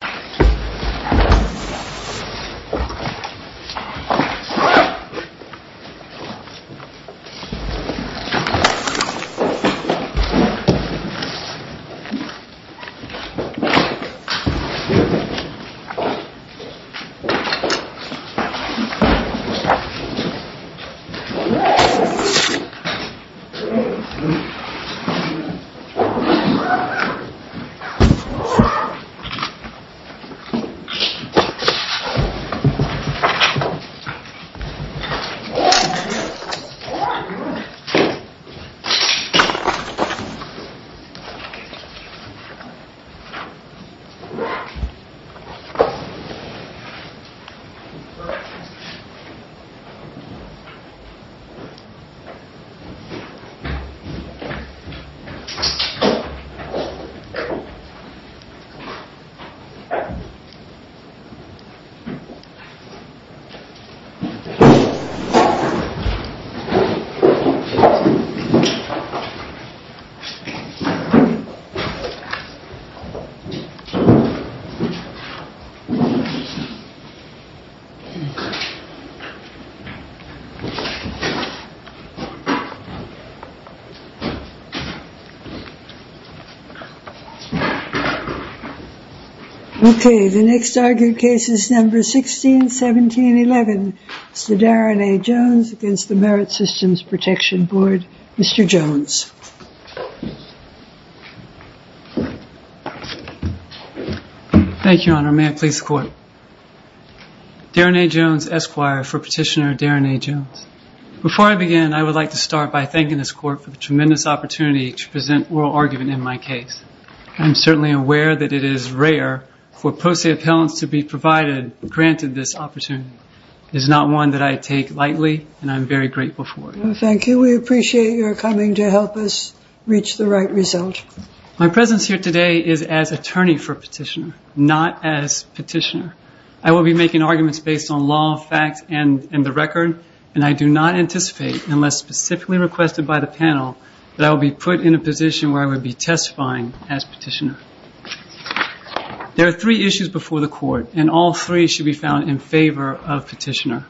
MSWordDoc Word.Document.8 MSWordDoc Word.Document.8 MSWordDoc Word.Document.8 Okay, the next argued case is number 161711. It's the Daron A. Jones against the Merit Systems Protection Board. Mr. Jones. Thank you, Your Honor. May I please the court? Daron A. Jones, Esquire for Petitioner Daron A. Jones. Before I begin, I would like to start by thanking this court for the tremendous opportunity to present oral argument in my case. I'm certainly aware that it is rare for post-say appellants to be provided, granted this opportunity. It is not one that I take lightly, and I'm very grateful for it. Thank you. We appreciate your coming to help us reach the right result. My presence here today is as attorney for petitioner, not as petitioner. I will be making arguments based on law, facts, and the record, and I do not anticipate, unless specifically requested by the panel, that I will be put in a position where I will be testifying as petitioner. There are three issues before the court, and all three should be found in favor of petitioner.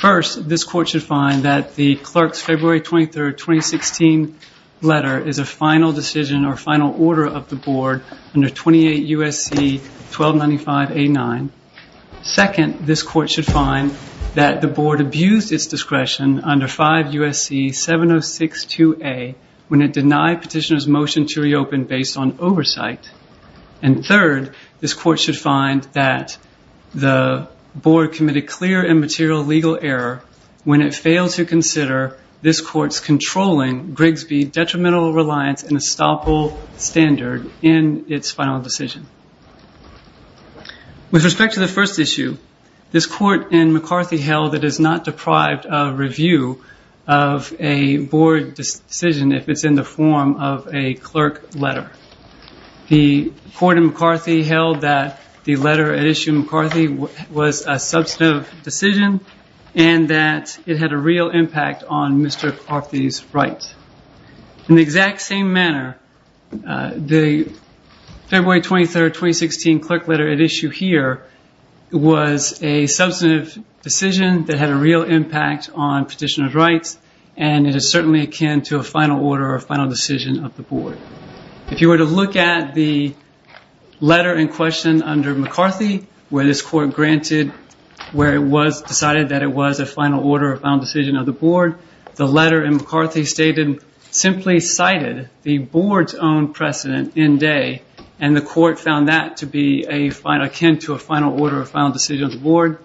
First, this court should find that the clerk's February 23, 2016 letter is a final decision or final order of the board under 28 U.S.C. 1295A9. Second, this court should find that the board abused its discretion under 5 U.S.C. 7062A when it denied petitioner's motion to reopen based on oversight. And third, this court should find that the board committed clear and material legal error when it failed to consider this court's controlling Grigsby detrimental reliance and estoppel standard in its final decision. With respect to the first issue, this court in McCarthy held that it is not deprived of review of a board decision if it's in the form of a clerk letter. The court in McCarthy held that the letter issued in McCarthy was a substantive decision and that it had a real impact on Mr. McCarthy's rights. In the exact same manner, the February 23, 2016 clerk letter at issue here was a substantive decision that had a real impact on petitioner's rights, and it is certainly akin to a final order or final decision of the board. If you were to look at the letter in question under McCarthy, where this court decided that it was a final order or final decision of the board, the letter in McCarthy stated simply cited the board's own precedent in day, and the court found that to be akin to a final order or final decision of the board.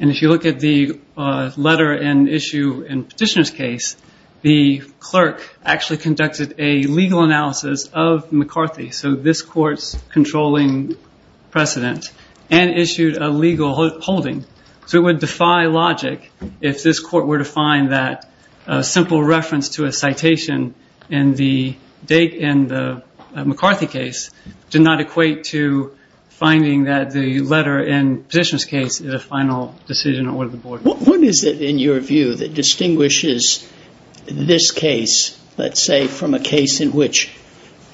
And if you look at the letter in issue in petitioner's case, the clerk actually conducted a legal analysis of McCarthy, so this court's controlling precedent, and issued a legal holding. So it would defy logic if this court were to find that a simple reference to a citation in the McCarthy case did not equate to finding that the letter in petitioner's case is a final decision or the board. What is it, in your view, that distinguishes this case, let's say, from a case in which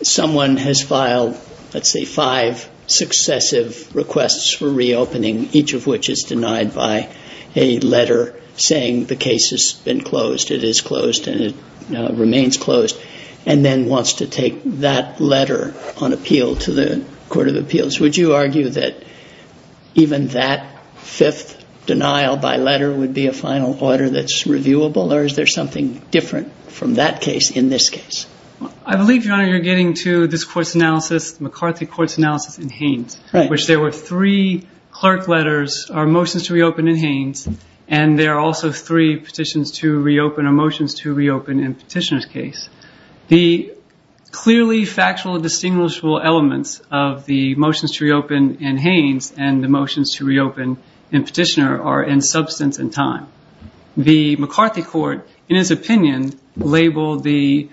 someone has filed, let's say, five successive requests for reopening, each of which is denied by a letter saying the case has been closed, it is closed, and it remains closed, and then wants to take that letter on appeal to the court of appeals? Would you argue that even that fifth denial by letter would be a final order that's reviewable? Or is there something different from that case in this case? I believe, Your Honor, you're getting to this court's analysis, McCarthy court's analysis in Haynes. Right. Which there were three clerk letters or motions to reopen in Haynes, and there are also three petitions to reopen or motions to reopen in petitioner's case. The clearly factual and distinguishable elements of the motions to reopen in Haynes and the motions to reopen in petitioner are in substance and time. The McCarthy court, in his opinion, labeled the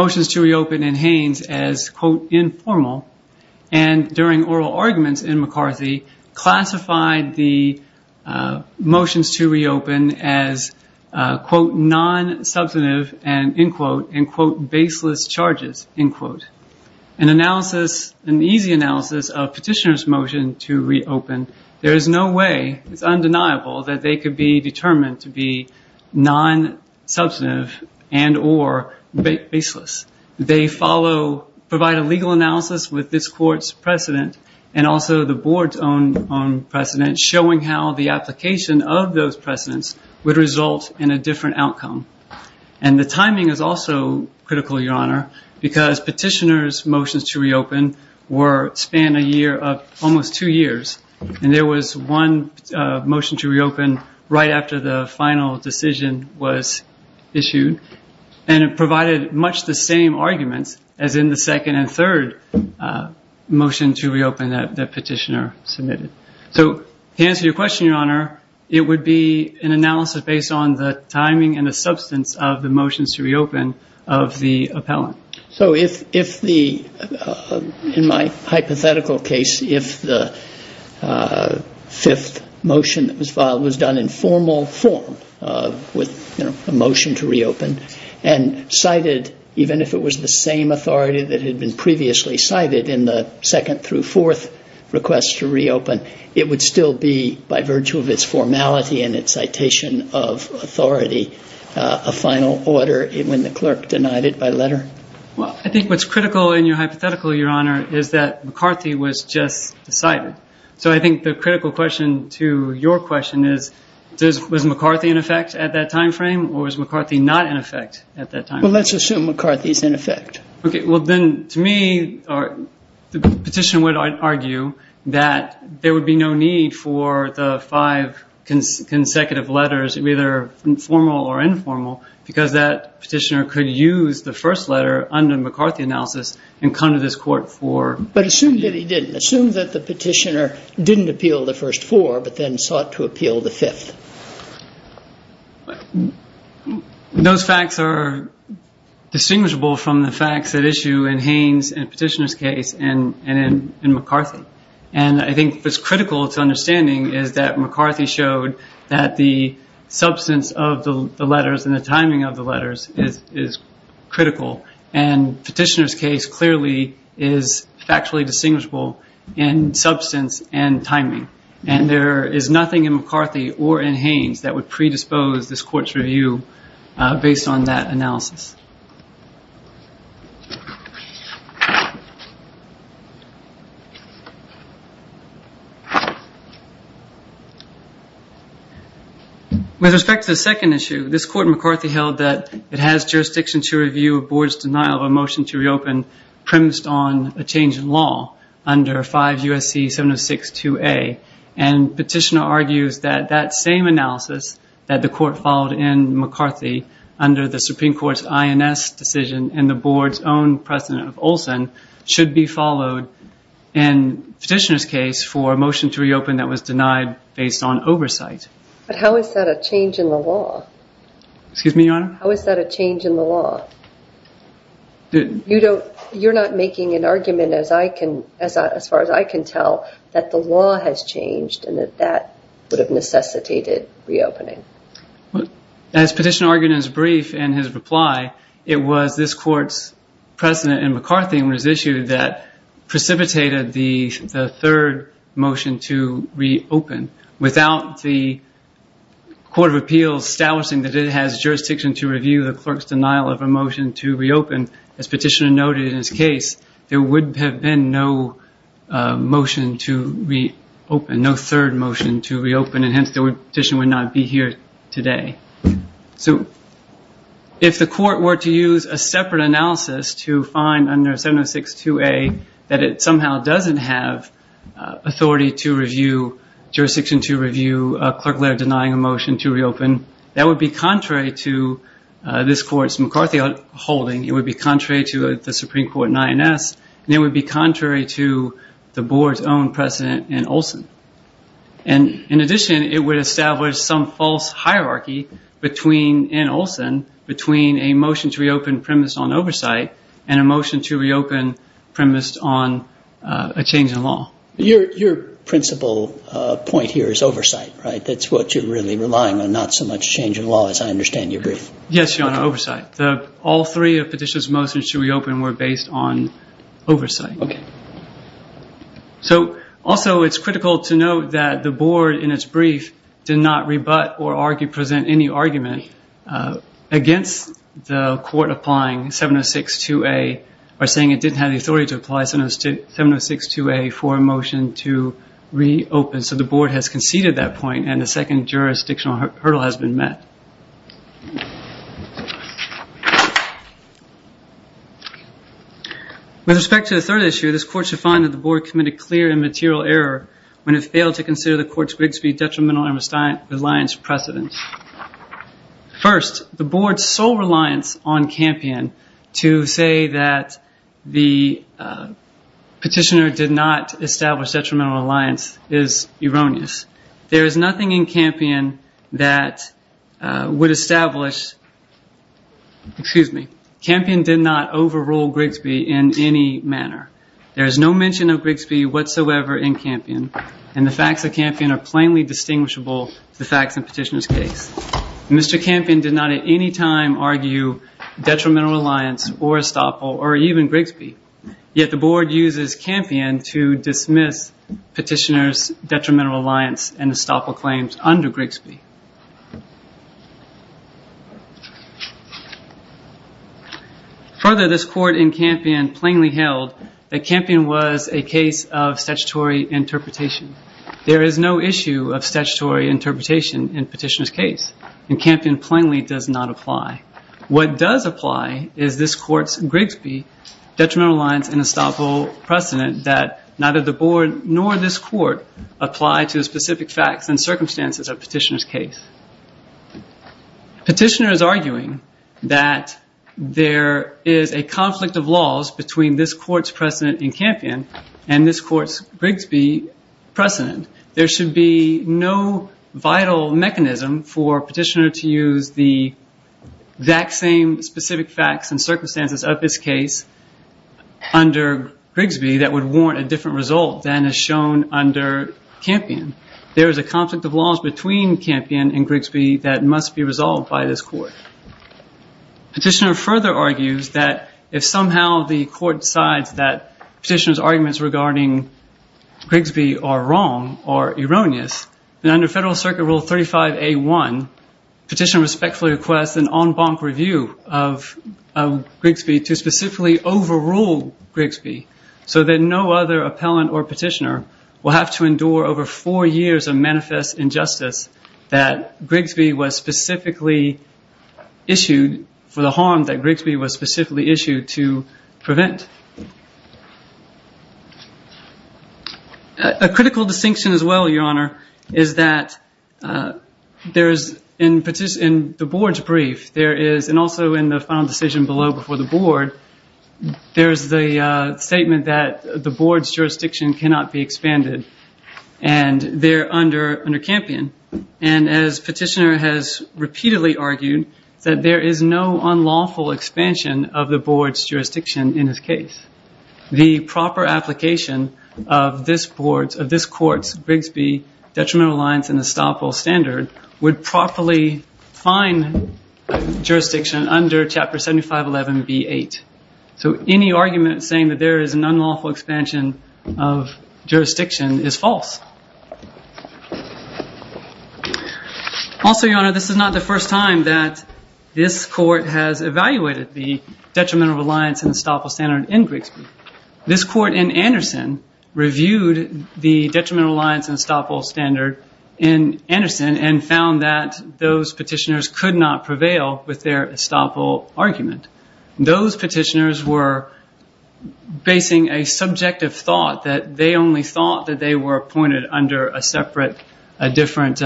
motions to reopen in Haynes as, quote, informal. And during oral arguments in McCarthy, classified the motions to reopen as, quote, non-substantive and, end quote, end quote, baseless charges, end quote. An analysis, an easy analysis of petitioner's motion to reopen, there is no way, it's undeniable that they could be determined to be non-substantive and or baseless. They follow, provide a legal analysis with this court's precedent and also the board's own precedent, showing how the application of those precedents would result in a different outcome. And the timing is also critical, Your Honor, because petitioner's motions to reopen were, span a year of almost two years. And there was one motion to reopen right after the final decision was issued. And it provided much the same arguments as in the second and third motion to reopen that petitioner submitted. So to answer your question, Your Honor, it would be an analysis based on the timing and the substance of the motions to reopen of the appellant. So if the, in my hypothetical case, if the fifth motion that was filed was done in formal form with a motion to reopen and cited, even if it was the same authority that had been previously cited in the second through fourth request to reopen, it would still be, by virtue of its formality and its citation of authority, a final order when the clerk denied it by letter? Well, I think what's critical in your hypothetical, Your Honor, is that McCarthy was just decided. So I think the critical question to your question is, was McCarthy in effect at that time frame or was McCarthy not in effect at that time? Well, let's assume McCarthy's in effect. OK, well, then to me, the petitioner would argue that there would be no need for the five consecutive letters, either formal or informal, because that petitioner could use the first letter under McCarthy analysis and come to this court for- But assume that he didn't. Assume that the petitioner didn't appeal the first four, but then sought to appeal the fifth. Those facts are distinguishable from the facts at issue in Haines and petitioner's case and in McCarthy. And I think what's critical to understanding is that McCarthy showed that the substance of the letters and the timing of the letters is critical. And petitioner's case clearly is factually distinguishable in substance and timing. And there is nothing in McCarthy or in Haines that would predispose this court's review based on that analysis. With respect to the second issue, this court in McCarthy held that it has jurisdiction to review a board's denial of a motion to reopen premised on a change in law under 5 U.S.C. 706-2A. And petitioner argues that that same analysis that the court followed in McCarthy under the Supreme Court's INS decision and the board's own precedent of Olson should be followed in petitioner's case for a motion to reopen that was denied based on oversight. But how is that a change in the law? Excuse me, Your Honor? How is that a change in the law? You're not making an argument as far as I can tell that the law has changed and that that would have necessitated reopening. As petitioner argued in his brief and his reply, it was this court's precedent in McCarthy and his issue that precipitated the third motion to reopen without the Court of Appeals establishing that it has jurisdiction to review the clerk's denial of a motion to reopen. As petitioner noted in his case, there would have been no motion to reopen, no third motion to reopen, and hence the petition would not be here today. So if the court were to use a separate analysis to find under 706-2A that it somehow doesn't have authority to review, jurisdiction to review, a clerk letter denying a motion to reopen, that would be contrary to this court's McCarthy holding, it would be contrary to the Supreme Court INS, and it would be contrary to the board's own precedent in Olson. In addition, it would establish some false hierarchy in Olson between a motion to reopen premised on oversight and a motion to reopen premised on a change in law. Your principal point here is oversight, right? That's what you're really relying on, not so much change in law as I understand your brief. Yes, Your Honor, oversight. All three of the petitioner's motions to reopen were based on oversight. Also, it's critical to note that the board in its brief did not rebut or present any argument against the court applying 706-2A or saying it didn't have the authority to apply 706-2A for a motion to reopen, so the board has conceded that point and the second jurisdictional hurdle has been met. With respect to the third issue, this court should find that the board committed clear and material error when it failed to consider the court's Grigsby detrimental reliance precedent. First, the board's sole reliance on Campion to say that the petitioner did not establish detrimental reliance is erroneous. There is nothing in Campion that would establish, excuse me, Campion did not overrule Grigsby in any manner. There is no mention of Grigsby whatsoever in Campion, and the facts of Campion are plainly distinguishable from the facts in the petitioner's case. Mr. Campion did not at any time argue detrimental reliance or estoppel or even Grigsby, yet the board uses Campion to dismiss petitioner's detrimental reliance and estoppel claims under Grigsby. Further, this court in Campion plainly held that Campion was a case of statutory interpretation. There is no issue of statutory interpretation in petitioner's case, and Campion plainly does not apply. What does apply is this court's Grigsby detrimental reliance and estoppel precedent that neither the board nor this court apply to specific facts and circumstances of petitioner's case. Petitioner is arguing that there is a conflict of laws between this court's precedent in Campion and this court's Grigsby precedent. There should be no vital mechanism for petitioner to use the exact same specific facts and circumstances of his case under Grigsby that would warrant a different result than is shown under Campion. There is a conflict of laws between Campion and Grigsby that must be resolved by this court. Petitioner further argues that if somehow the court decides that petitioner's arguments regarding Grigsby are wrong or erroneous, then under Federal Circuit Rule 35A1, petitioner respectfully requests an en banc review of Grigsby to specifically overrule Grigsby, so that no other appellant or petitioner will have to endure over four years of manifest injustice that Grigsby was specifically issued for the harm that Grigsby was specifically issued to prevent. A critical distinction as well, Your Honor, is that in the board's brief, and also in the final decision below before the board, there is the statement that the board's jurisdiction cannot be expanded, and they're under Campion. And as petitioner has repeatedly argued, that there is no unlawful expansion of the board's jurisdiction in his case. The proper application of this court's Grigsby, detrimental lines, and estoppel standard would properly fine jurisdiction under Chapter 7511B8. So any argument saying that there is an unlawful expansion of jurisdiction is false. Also, Your Honor, this is not the first time that this court has evaluated the detrimental lines and estoppel standard in Grigsby. This court in Anderson reviewed the detrimental lines and estoppel standard in Anderson and found that those petitioners could not prevail with their estoppel argument. Those petitioners were basing a subjective thought that they only thought that they were appointed under a separate, different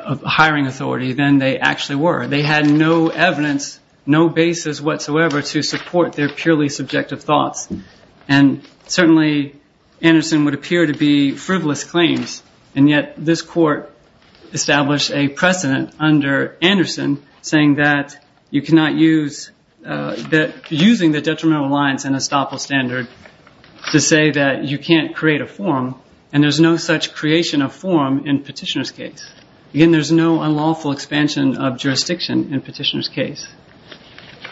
hiring authority than they actually were. They had no evidence, no basis whatsoever to support their purely subjective thoughts. And certainly, Anderson would appear to be frivolous claims, and yet this court established a precedent under Anderson saying that you cannot use, that using the detrimental lines and estoppel standard to say that you can't create a forum, and there's no such creation of forum in petitioner's case. Again, there's no unlawful expansion of jurisdiction in petitioner's case.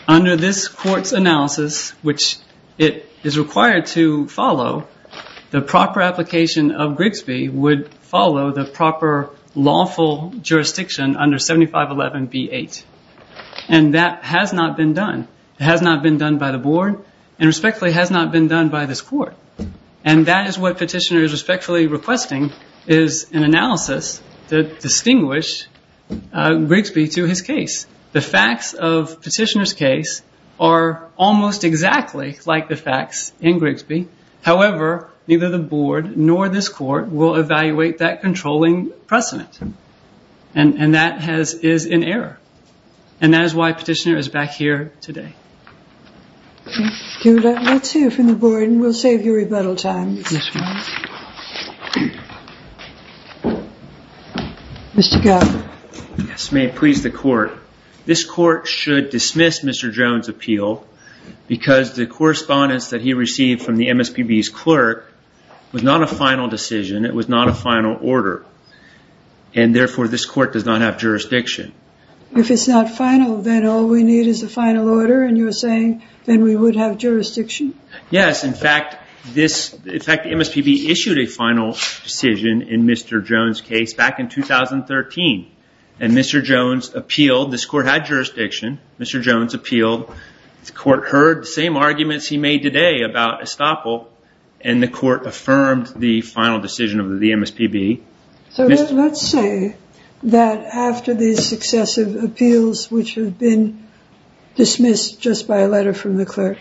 Under this court's analysis, which it is required to follow, the proper application of Grigsby would follow the proper lawful jurisdiction under 7511B8. And that has not been done. It has not been done by the board, and respectfully, it has not been done by this court. And that is what petitioner is respectfully requesting, is an analysis that distinguish Grigsby to his case. The facts of petitioner's case are almost exactly like the facts in Grigsby. However, neither the board nor this court will evaluate that controlling precedent, and that is in error. And that is why petitioner is back here today. Let's hear from the board, and we'll save you rebuttal time. Mr. Gallagher. Yes, may it please the court. This court should dismiss Mr. Jones' appeal because the correspondence that he received from the MSPB's clerk was not a final decision. It was not a final order. And therefore, this court does not have jurisdiction. If it's not final, then all we need is a final order, and you're saying then we would have jurisdiction? Yes. In fact, this MSPB issued a final decision in Mr. Jones' case back in 2013, and Mr. Jones appealed. This court had jurisdiction. Mr. Jones appealed. The court heard the same arguments he made today about estoppel, and the court affirmed the final decision of the MSPB. So let's say that after these successive appeals, which have been dismissed just by a letter from the clerk,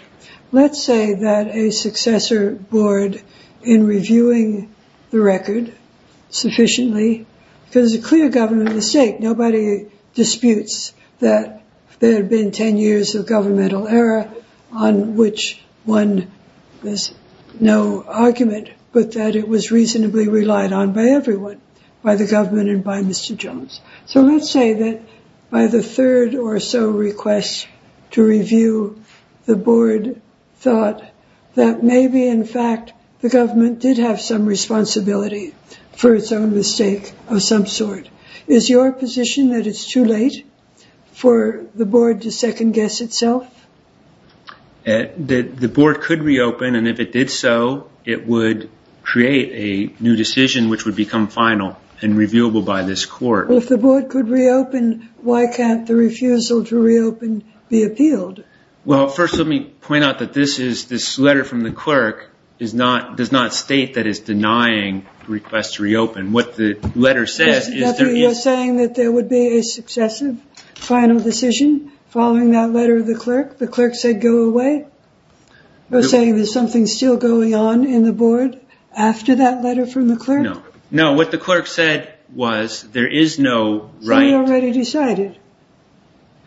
let's say that a successor board, in reviewing the record sufficiently, because it's a clear government mistake. Nobody disputes that there have been 10 years of governmental error on which one has no argument, but that it was reasonably relied on by everyone, by the government and by Mr. Jones. So let's say that by the third or so requests to review, the board thought that maybe, in fact, the government did have some responsibility for its own mistake of some sort. Is your position that it's too late for the board to second-guess itself? The board could reopen, and if it did so, it would create a new decision which would become final and reviewable by this court. If the board could reopen, why can't the refusal to reopen be appealed? Well, first let me point out that this letter from the clerk does not state that it's denying the request to reopen. You're saying that there would be a successive final decision following that letter of the clerk? The clerk said, go away? You're saying there's something still going on in the board after that letter from the clerk? No. No, what the clerk said was there is no right. So you already decided?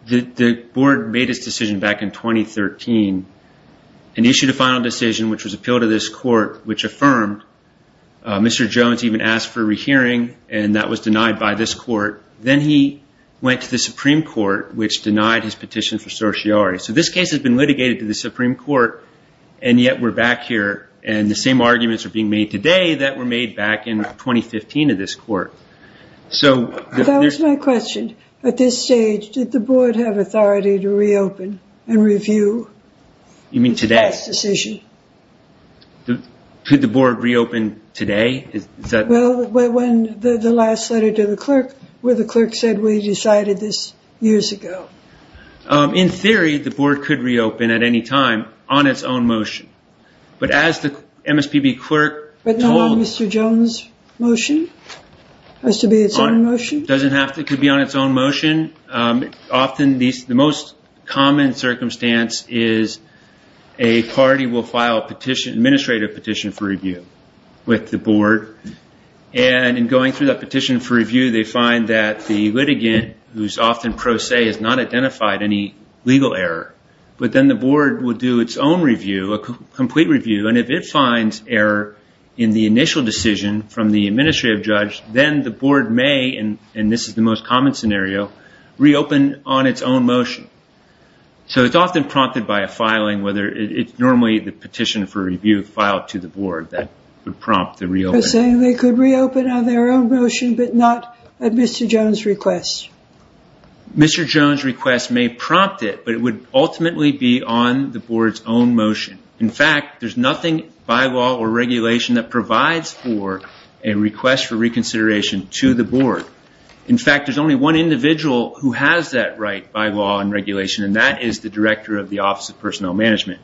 The board made its decision back in 2013 and issued a final decision which was appealed to this court, which affirmed. Mr. Jones even asked for a rehearing, and that was denied by this court. Then he went to the Supreme Court, which denied his petition for certiorari. So this case has been litigated to the Supreme Court, and yet we're back here, and the same arguments are being made today that were made back in 2015 in this court. That was my question. At this stage, did the board have authority to reopen and review the past decision? You mean today? Could the board reopen today? Well, when the last letter to the clerk, where the clerk said we decided this years ago. In theory, the board could reopen at any time on its own motion. But as the MSPB clerk told- But not on Mr. Jones' motion? It has to be its own motion? Often, the most common circumstance is a party will file an administrative petition for review with the board, and in going through that petition for review, they find that the litigant, who is often pro se, has not identified any legal error. But then the board will do its own review, a complete review, and if it finds error in the initial decision from the administrative judge, then the board may, and this is the most common scenario, reopen on its own motion. So it's often prompted by a filing. It's normally the petition for review filed to the board that would prompt the reopening. You're saying they could reopen on their own motion, but not at Mr. Jones' request? Mr. Jones' request may prompt it, but it would ultimately be on the board's own motion. In fact, there's nothing by law or regulation that provides for a request for reconsideration to the board. In fact, there's only one individual who has that right by law and regulation, and that is the director of the Office of Personnel Management,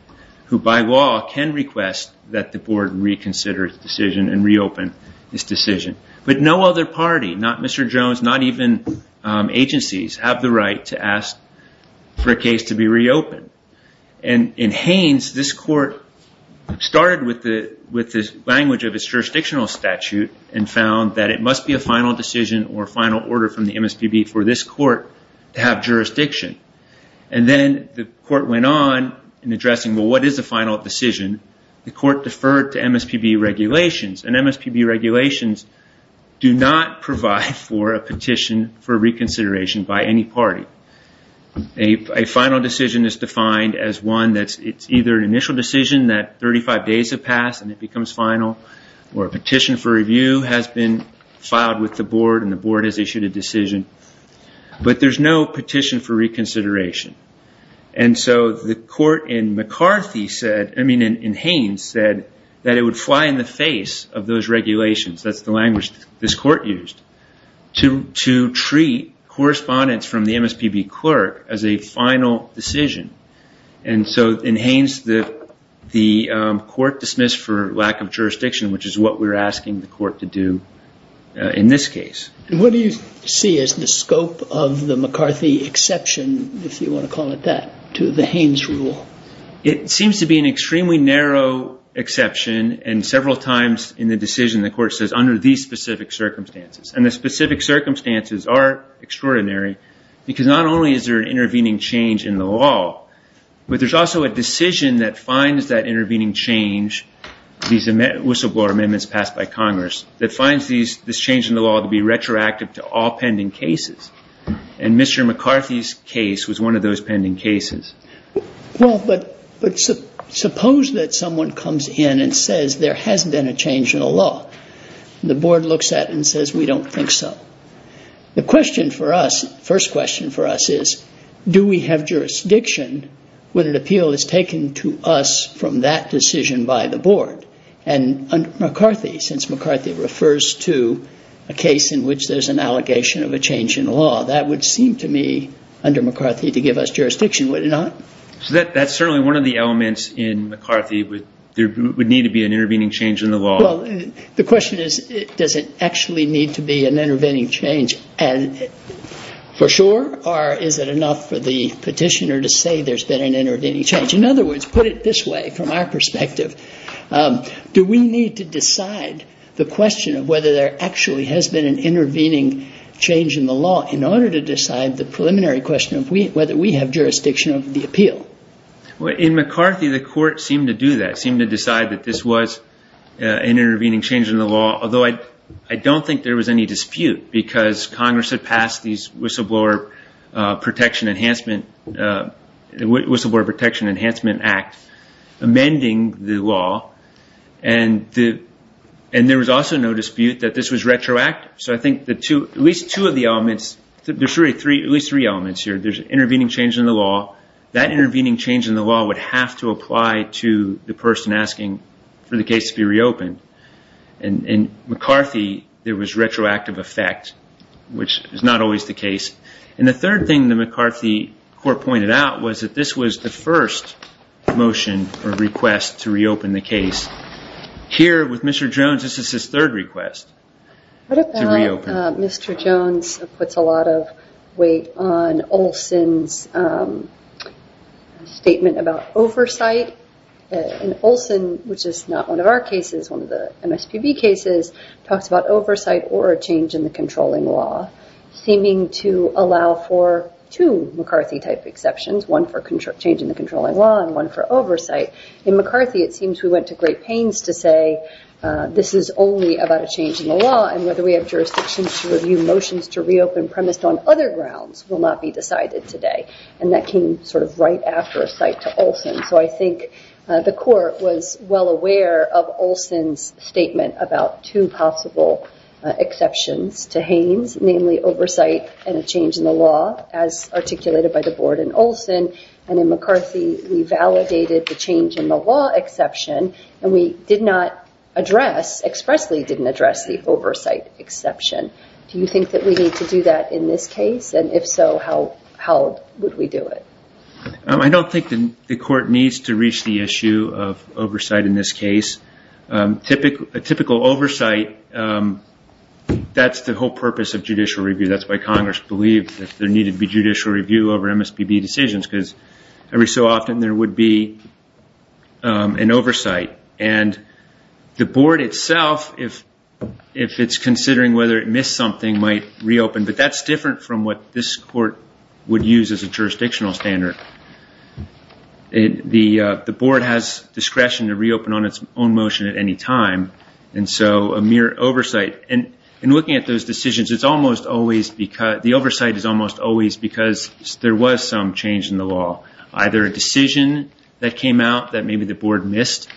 who by law can request that the board reconsider its decision and reopen its decision. But no other party, not Mr. Jones, not even agencies, have the right to ask for a case to be reopened. In Haines, this court started with the language of its jurisdictional statute and found that it must be a final decision or final order from the MSPB for this court to have jurisdiction. Then the court went on in addressing, well, what is the final decision? The court deferred to MSPB regulations, and MSPB regulations do not provide for a petition for reconsideration by any party. A final decision is defined as one that's either an initial decision that 35 days have passed and it becomes final, or a petition for review has been filed with the board and the board has issued a decision, but there's no petition for reconsideration. The court in Haines said that it would fly in the face of those regulations, that's the language this court used, to treat correspondence from the MSPB clerk as a final decision. In Haines, the court dismissed for lack of jurisdiction, which is what we're asking the court to do in this case. What do you see as the scope of the McCarthy exception, if you want to call it that, to the Haines rule? It seems to be an extremely narrow exception, and several times in the decision the court says, under these specific circumstances, and the specific circumstances are extraordinary, because not only is there an intervening change in the law, but there's also a decision that finds that intervening change, these whistleblower amendments passed by Congress, that finds this change in the law to be retroactive to all pending cases. And Mr. McCarthy's case was one of those pending cases. Well, but suppose that someone comes in and says there hasn't been a change in the law. The board looks at it and says, we don't think so. The first question for us is, do we have jurisdiction when an appeal is taken to us from that decision by the board? And McCarthy, since McCarthy refers to a case in which there's an allegation of a change in the law, that would seem to me, under McCarthy, to give us jurisdiction, would it not? So that's certainly one of the elements in McCarthy. There would need to be an intervening change in the law. Well, the question is, does it actually need to be an intervening change for sure, or is it enough for the petitioner to say there's been an intervening change? In other words, put it this way, from our perspective, do we need to decide the question of whether there actually has been an intervening change in the law in order to decide the preliminary question of whether we have jurisdiction over the appeal? Well, in McCarthy, the court seemed to do that, seemed to decide that this was an intervening change in the law, although I don't think there was any dispute, because Congress had passed the Whistleblower Protection Enhancement Act amending the law, and there was also no dispute that this was retroactive. So I think at least two of the elements, there's really at least three elements here. There's an intervening change in the law. That intervening change in the law would have to apply to the person asking for the case to be reopened. In McCarthy, there was retroactive effect, which is not always the case. And the third thing the McCarthy court pointed out was that this was the first motion or request to reopen the case. Here with Mr. Jones, this is his third request to reopen. Mr. Jones puts a lot of weight on Olson's statement about oversight. And Olson, which is not one of our cases, one of the MSPB cases, talks about oversight or a change in the controlling law, seeming to allow for two McCarthy-type exceptions, one for change in the controlling law and one for oversight. In McCarthy, it seems we went to great pains to say this is only about a change in the law, and whether we have jurisdictions to review motions to reopen premised on other grounds will not be decided today. So I think the court was well aware of Olson's statement about two possible exceptions to Haines, namely oversight and a change in the law, as articulated by the board in Olson. And in McCarthy, we validated the change in the law exception, and we did not address, expressly didn't address the oversight exception. Do you think that we need to do that in this case? And if so, how would we do it? I don't think the court needs to reach the issue of oversight in this case. A typical oversight, that's the whole purpose of judicial review. That's why Congress believed that there needed to be judicial review over MSPB decisions, because every so often there would be an oversight. And the board itself, if it's considering whether it missed something, might reopen. But that's different from what this court would use as a jurisdictional standard. The board has discretion to reopen on its own motion at any time, and so a mere oversight. And in looking at those decisions, the oversight is almost always because there was some change in the law, either a decision that came out that maybe the board missed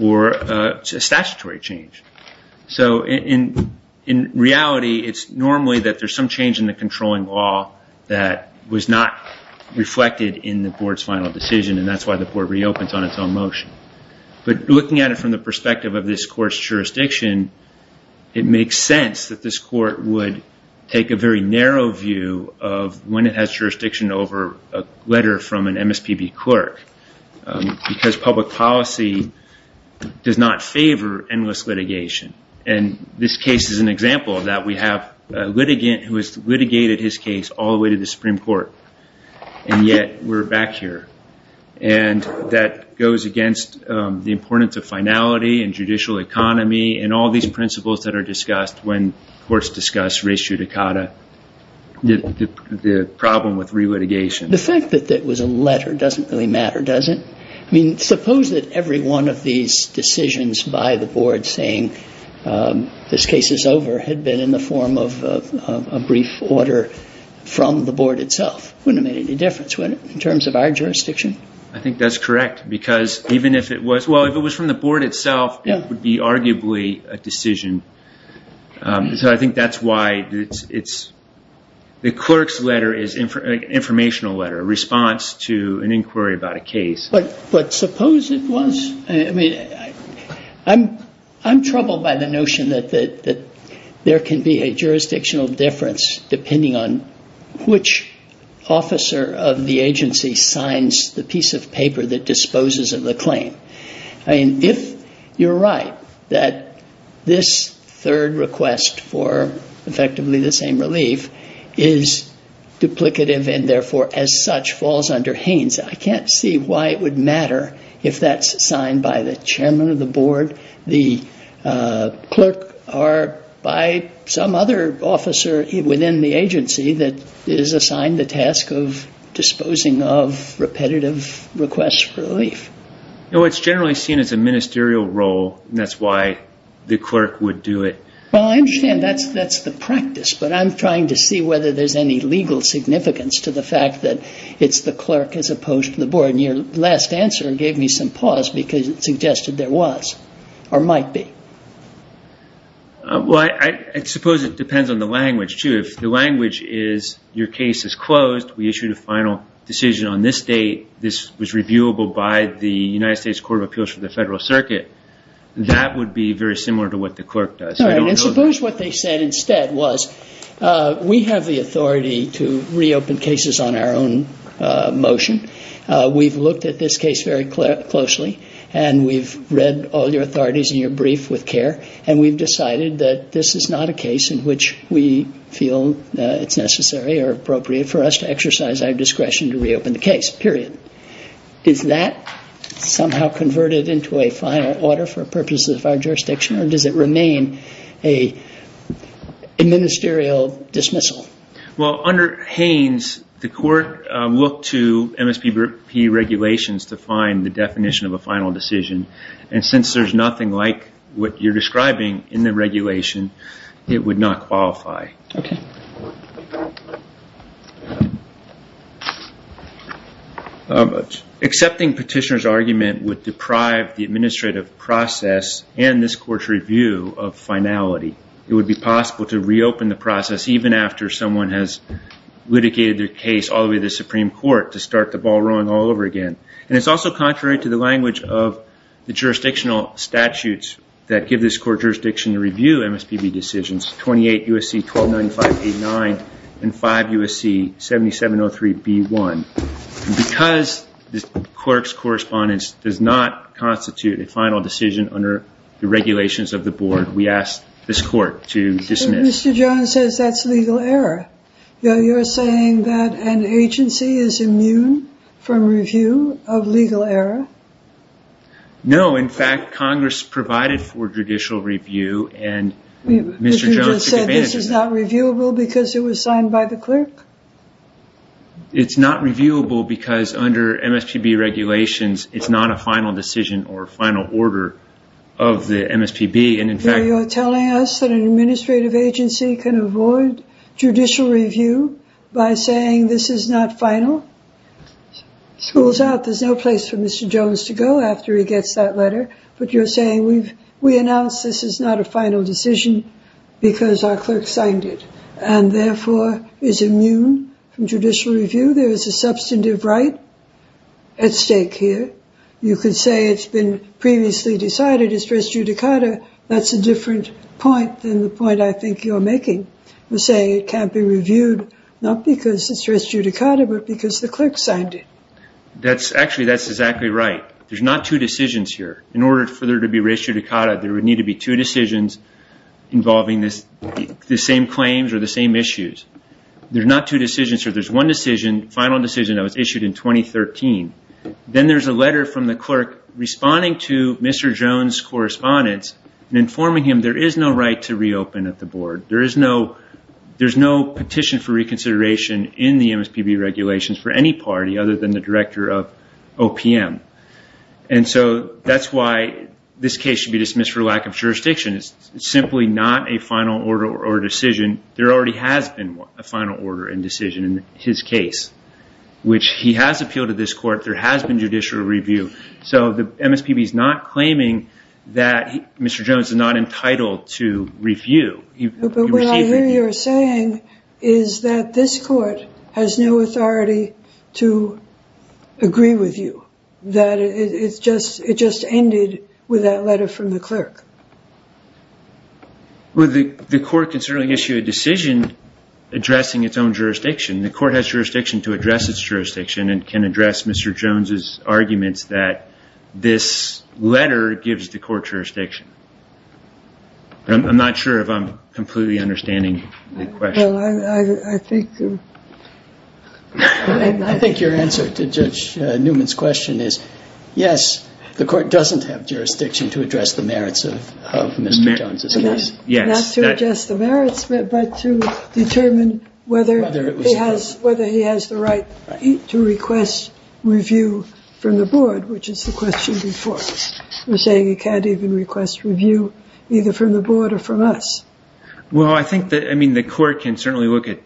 or a statutory change. So in reality, it's normally that there's some change in the controlling law that was not reflected in the board's final decision, and that's why the board reopens on its own motion. But looking at it from the perspective of this court's jurisdiction, it makes sense that this court would take a very narrow view of when it has jurisdiction over a letter from an MSPB clerk, because public policy does not favor endless litigation. And this case is an example of that. We have a litigant who has litigated his case all the way to the Supreme Court, and yet we're back here. And that goes against the importance of finality and judicial economy and all these principles that are discussed when courts discuss res judicata, the problem with re-litigation. The fact that it was a letter doesn't really matter, does it? I mean, suppose that every one of these decisions by the board saying this case is over had been in the form of a brief order from the board itself. It wouldn't have made any difference, would it, in terms of our jurisdiction? I think that's correct, because even if it was – well, if it was from the board itself, it would be arguably a decision. So I think that's why it's – the clerk's letter is an informational letter, a response to an inquiry about a case. But suppose it was – I mean, I'm troubled by the notion that there can be a jurisdictional difference depending on which officer of the agency signs the piece of paper that disposes of the claim. I mean, if you're right that this third request for effectively the same relief is duplicative and therefore as such falls under Haines, I can't see why it would matter if that's signed by the chairman of the board, the clerk, or by some other officer within the agency that is assigned the task of disposing of repetitive requests for relief. You know, it's generally seen as a ministerial role, and that's why the clerk would do it. Well, I understand that's the practice, but I'm trying to see whether there's any legal significance to the fact that it's the clerk as opposed to the board, and your last answer gave me some pause because it suggested there was or might be. Well, I suppose it depends on the language, too. If the language is your case is closed, we issued a final decision on this date, this was reviewable by the United States Court of Appeals for the Federal Circuit, that would be very similar to what the clerk does. All right, and suppose what they said instead was we have the authority to reopen cases on our own motion. We've looked at this case very closely, and we've read all your authorities in your brief with care, and we've decided that this is not a case in which we feel it's necessary or appropriate for us to exercise our discretion to reopen the case, period. Is that somehow converted into a final order for purposes of our jurisdiction, or does it remain a ministerial dismissal? Well, under Haynes, the court looked to MSPB regulations to find the definition of a final decision, and since there's nothing like what you're describing in the regulation, it would not qualify. Okay. Accepting petitioner's argument would deprive the administrative process and this court's review of finality. It would be possible to reopen the process even after someone has litigated their case all the way to the Supreme Court to start the ball rolling all over again. And it's also contrary to the language of the jurisdictional statutes that give this court jurisdiction to review MSPB decisions, 28 U.S.C. 129589 and 5 U.S.C. 7703B1. Because the clerk's correspondence does not constitute a final decision under the regulations of the board, we ask this court to dismiss. But Mr. Jones says that's legal error. You're saying that an agency is immune from review of legal error? No. No, in fact, Congress provided for judicial review and Mr. Jones took advantage of that. But you just said this is not reviewable because it was signed by the clerk? It's not reviewable because under MSPB regulations, it's not a final decision or final order of the MSPB, and in fact- So you're telling us that an administrative agency can avoid judicial review by saying this is not final? School's out. There's no place for Mr. Jones to go after he gets that letter. But you're saying we announced this is not a final decision because our clerk signed it and therefore is immune from judicial review? There is a substantive right at stake here. You could say it's been previously decided it's first judicata. That's a different point than the point I think you're making. You're saying it can't be reviewed not because it's first judicata but because the clerk signed it. Actually, that's exactly right. There's not two decisions here. In order for there to be first judicata, there would need to be two decisions involving the same claims or the same issues. There's not two decisions here. There's one final decision that was issued in 2013. Then there's a letter from the clerk responding to Mr. Jones' correspondence and informing him there is no right to reopen at the board. There is no petition for reconsideration in the MSPB regulations for any party other than the director of OPM. That's why this case should be dismissed for lack of jurisdiction. It's simply not a final order or decision. There already has been a final order and decision in his case, which he has appealed to this court. There has been judicial review. So the MSPB is not claiming that Mr. Jones is not entitled to review. But what I hear you're saying is that this court has no authority to agree with you, that it just ended with that letter from the clerk. Well, the court can certainly issue a decision addressing its own jurisdiction. The court has jurisdiction to address its jurisdiction and can address Mr. Jones' arguments that this letter gives the court jurisdiction. I'm not sure if I'm completely understanding the question. Well, I think your answer to Judge Newman's question is, yes, the court doesn't have jurisdiction to address the merits of Mr. Jones' case. Not to address the merits, but to determine whether he has the right to request review from the board, which is the question before. You're saying he can't even request review either from the board or from us. Well, I think the court can certainly look at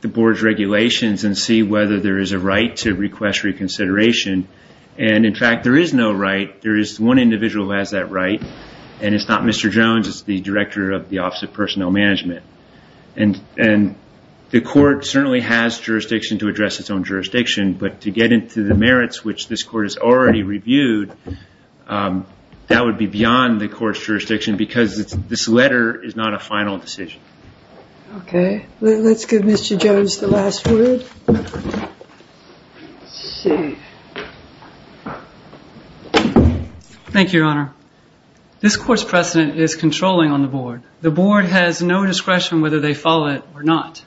the board's regulations and see whether there is a right to request reconsideration. And, in fact, there is no right. There is one individual who has that right. And it's not Mr. Jones. It's the director of the Office of Personnel Management. And the court certainly has jurisdiction to address its own jurisdiction. But to get into the merits, which this court has already reviewed, that would be beyond the court's jurisdiction because this letter is not a final decision. Okay. Let's give Mr. Jones the last word. Okay. Thank you, Your Honor. This court's precedent is controlling on the board. The board has no discretion whether they follow it or not.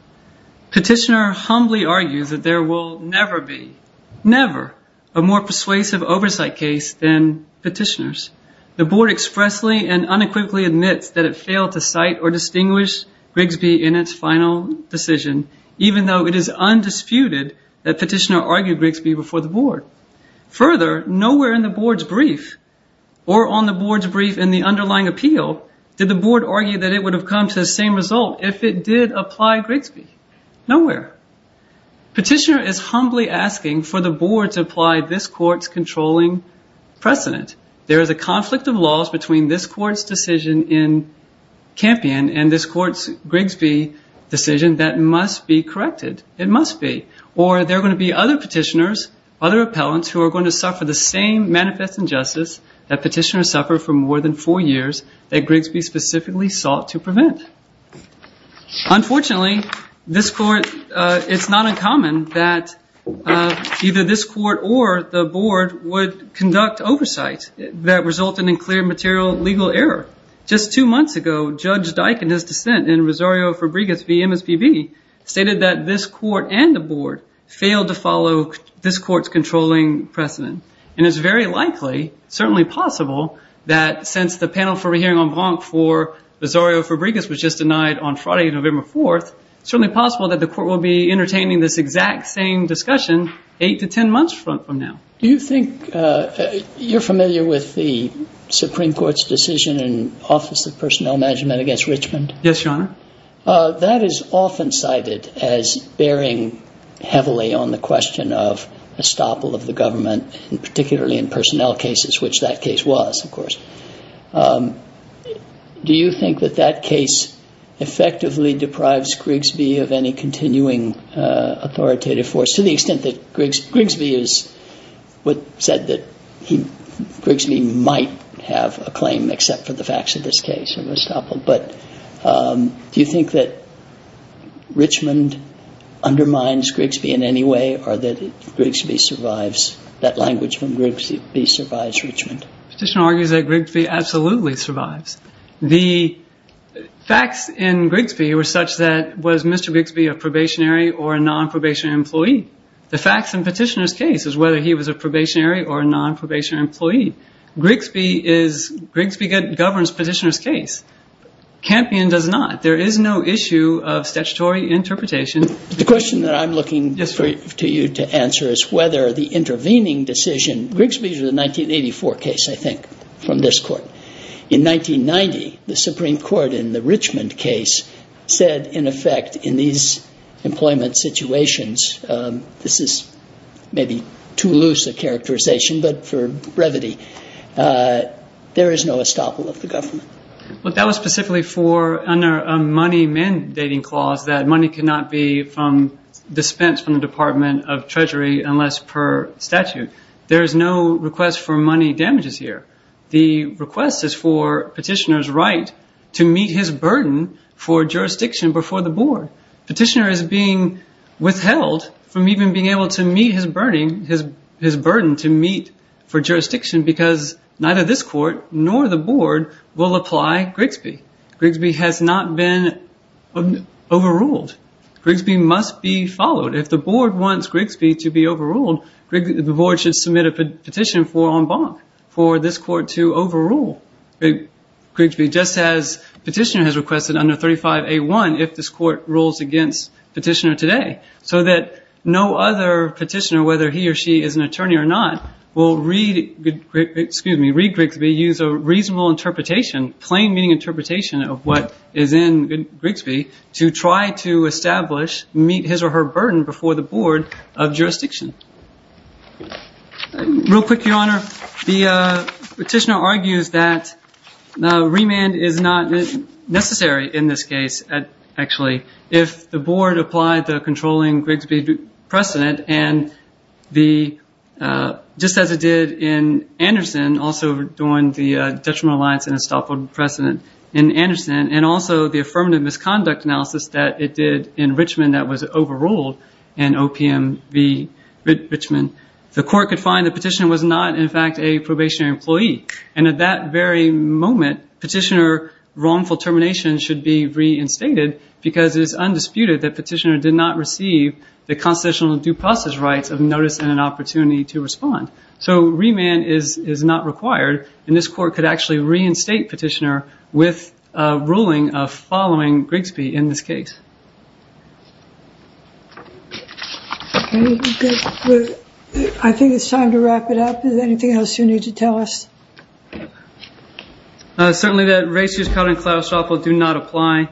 Petitioner humbly argues that there will never be, never, a more persuasive oversight case than petitioner's. The board expressly and unequivocally admits that it failed to cite or distinguish Grigsby in its final decision, even though it is undisputed that petitioner argued Grigsby before the board. Further, nowhere in the board's brief or on the board's brief in the underlying appeal did the board argue that it would have come to the same result if it did apply Grigsby. Nowhere. Petitioner is humbly asking for the board to apply this court's controlling precedent. There is a conflict of laws between this court's decision in Campion and this court's Grigsby decision that must be corrected. It must be. Or there are going to be other petitioners, other appellants, who are going to suffer the same manifest injustice that petitioners suffered for more than four years that Grigsby specifically sought to prevent. Unfortunately, this court, it's not uncommon that either this court or the board would conduct oversight that resulted in clear material legal error. Just two months ago, Judge Dyck, in his dissent in Rosario Fabregas v. MSPB, stated that this court and the board failed to follow this court's controlling precedent. And it's very likely, certainly possible, that since the panel for a hearing on Blanc for Rosario Fabregas was just denied on Friday, November 4th, it's certainly possible that the court will be entertaining this exact same discussion eight to ten months from now. Do you think you're familiar with the Supreme Court's decision in Office of Personnel Management against Richmond? Yes, Your Honor. That is often cited as bearing heavily on the question of estoppel of the government, particularly in personnel cases, which that case was, of course. Do you think that that case effectively deprives Grigsby of any continuing authoritative force, to the extent that Grigsby is what said that Grigsby might have a claim except for the facts of this case of estoppel? But do you think that Richmond undermines Grigsby in any way, or that Grigsby survives, that language from Grigsby survives Richmond? Petitioner argues that Grigsby absolutely survives. The facts in Grigsby were such that was Mr. Grigsby a probationary or a non-probationary employee? The facts in Petitioner's case is whether he was a probationary or a non-probationary employee. Grigsby governs Petitioner's case. Campion does not. There is no issue of statutory interpretation. The question that I'm looking to you to answer is whether the intervening decision, Grigsby's was a 1984 case, I think, from this court. In 1990, the Supreme Court in the Richmond case said, in effect, in these employment situations, this is maybe too loose a characterization, but for brevity, there is no estoppel of the government. But that was specifically for a money mandating clause that money cannot be dispensed from the Department of Treasury unless per statute. There is no request for money damages here. The request is for Petitioner's right to meet his burden for jurisdiction before the board. Petitioner is being withheld from even being able to meet his burden to meet for jurisdiction because neither this court nor the board will apply Grigsby. Grigsby has not been overruled. Grigsby must be followed. If the board wants Grigsby to be overruled, the board should submit a petition for en banc, for this court to overrule Grigsby, just as Petitioner has requested under 35A1 if this court rules against Petitioner today, so that no other petitioner, whether he or she is an attorney or not, will read Grigsby, use a reasonable interpretation, plain meaning interpretation of what is in Grigsby, to try to establish meet his or her burden before the board of jurisdiction. Real quick, Your Honor. Petitioner argues that remand is not necessary in this case, actually, if the board applied the controlling Grigsby precedent just as it did in Anderson, also during the Detriment Alliance and Estoppel precedent in Anderson, and also the affirmative misconduct analysis that it did in Richmond that was overruled in OPM v. Richmond, the court could find that Petitioner was not, in fact, a probationary employee. And at that very moment, Petitioner's wrongful termination should be reinstated because it is undisputed that Petitioner did not receive the constitutional due process rights of notice and an opportunity to respond. So remand is not required. And this court could actually reinstate Petitioner with a ruling following Grigsby in this case. I think it's time to wrap it up. Is there anything else you need to tell us? Certainly that ratios cut and collateral estoppel do not apply.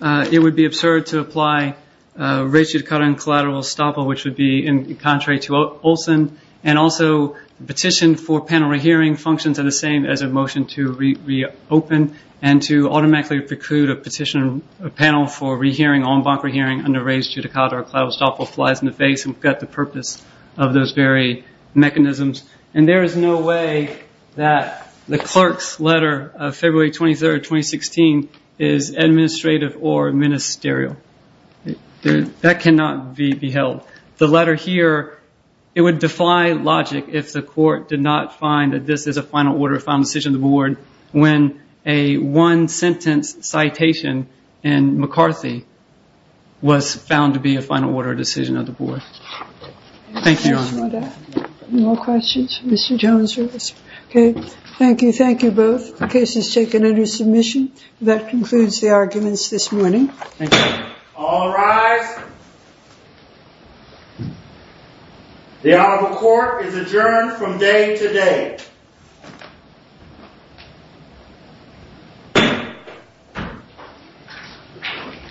It would be absurd to apply ratios cut and collateral estoppel, which would be contrary to Olson, and also petition for panel re-hearing functions are the same as a motion to reopen and to automatically preclude a petition panel for re-hearing on bonk re-hearing under ratios cut and collateral estoppel flies in the face. We've got the purpose of those very mechanisms. And there is no way that the clerk's letter of February 23rd, 2016, is administrative or ministerial. That cannot be held. The letter here, it would defy logic if the court did not find that this is a final order of final decision of the board when a one-sentence citation in McCarthy was found to be a final order of decision of the board. Thank you, Your Honor. Any more questions for Mr. Jones? Okay, thank you. Thank you both. The case is taken under submission. That concludes the arguments this morning. Thank you. All rise. The Honorable Court is adjourned from day to day.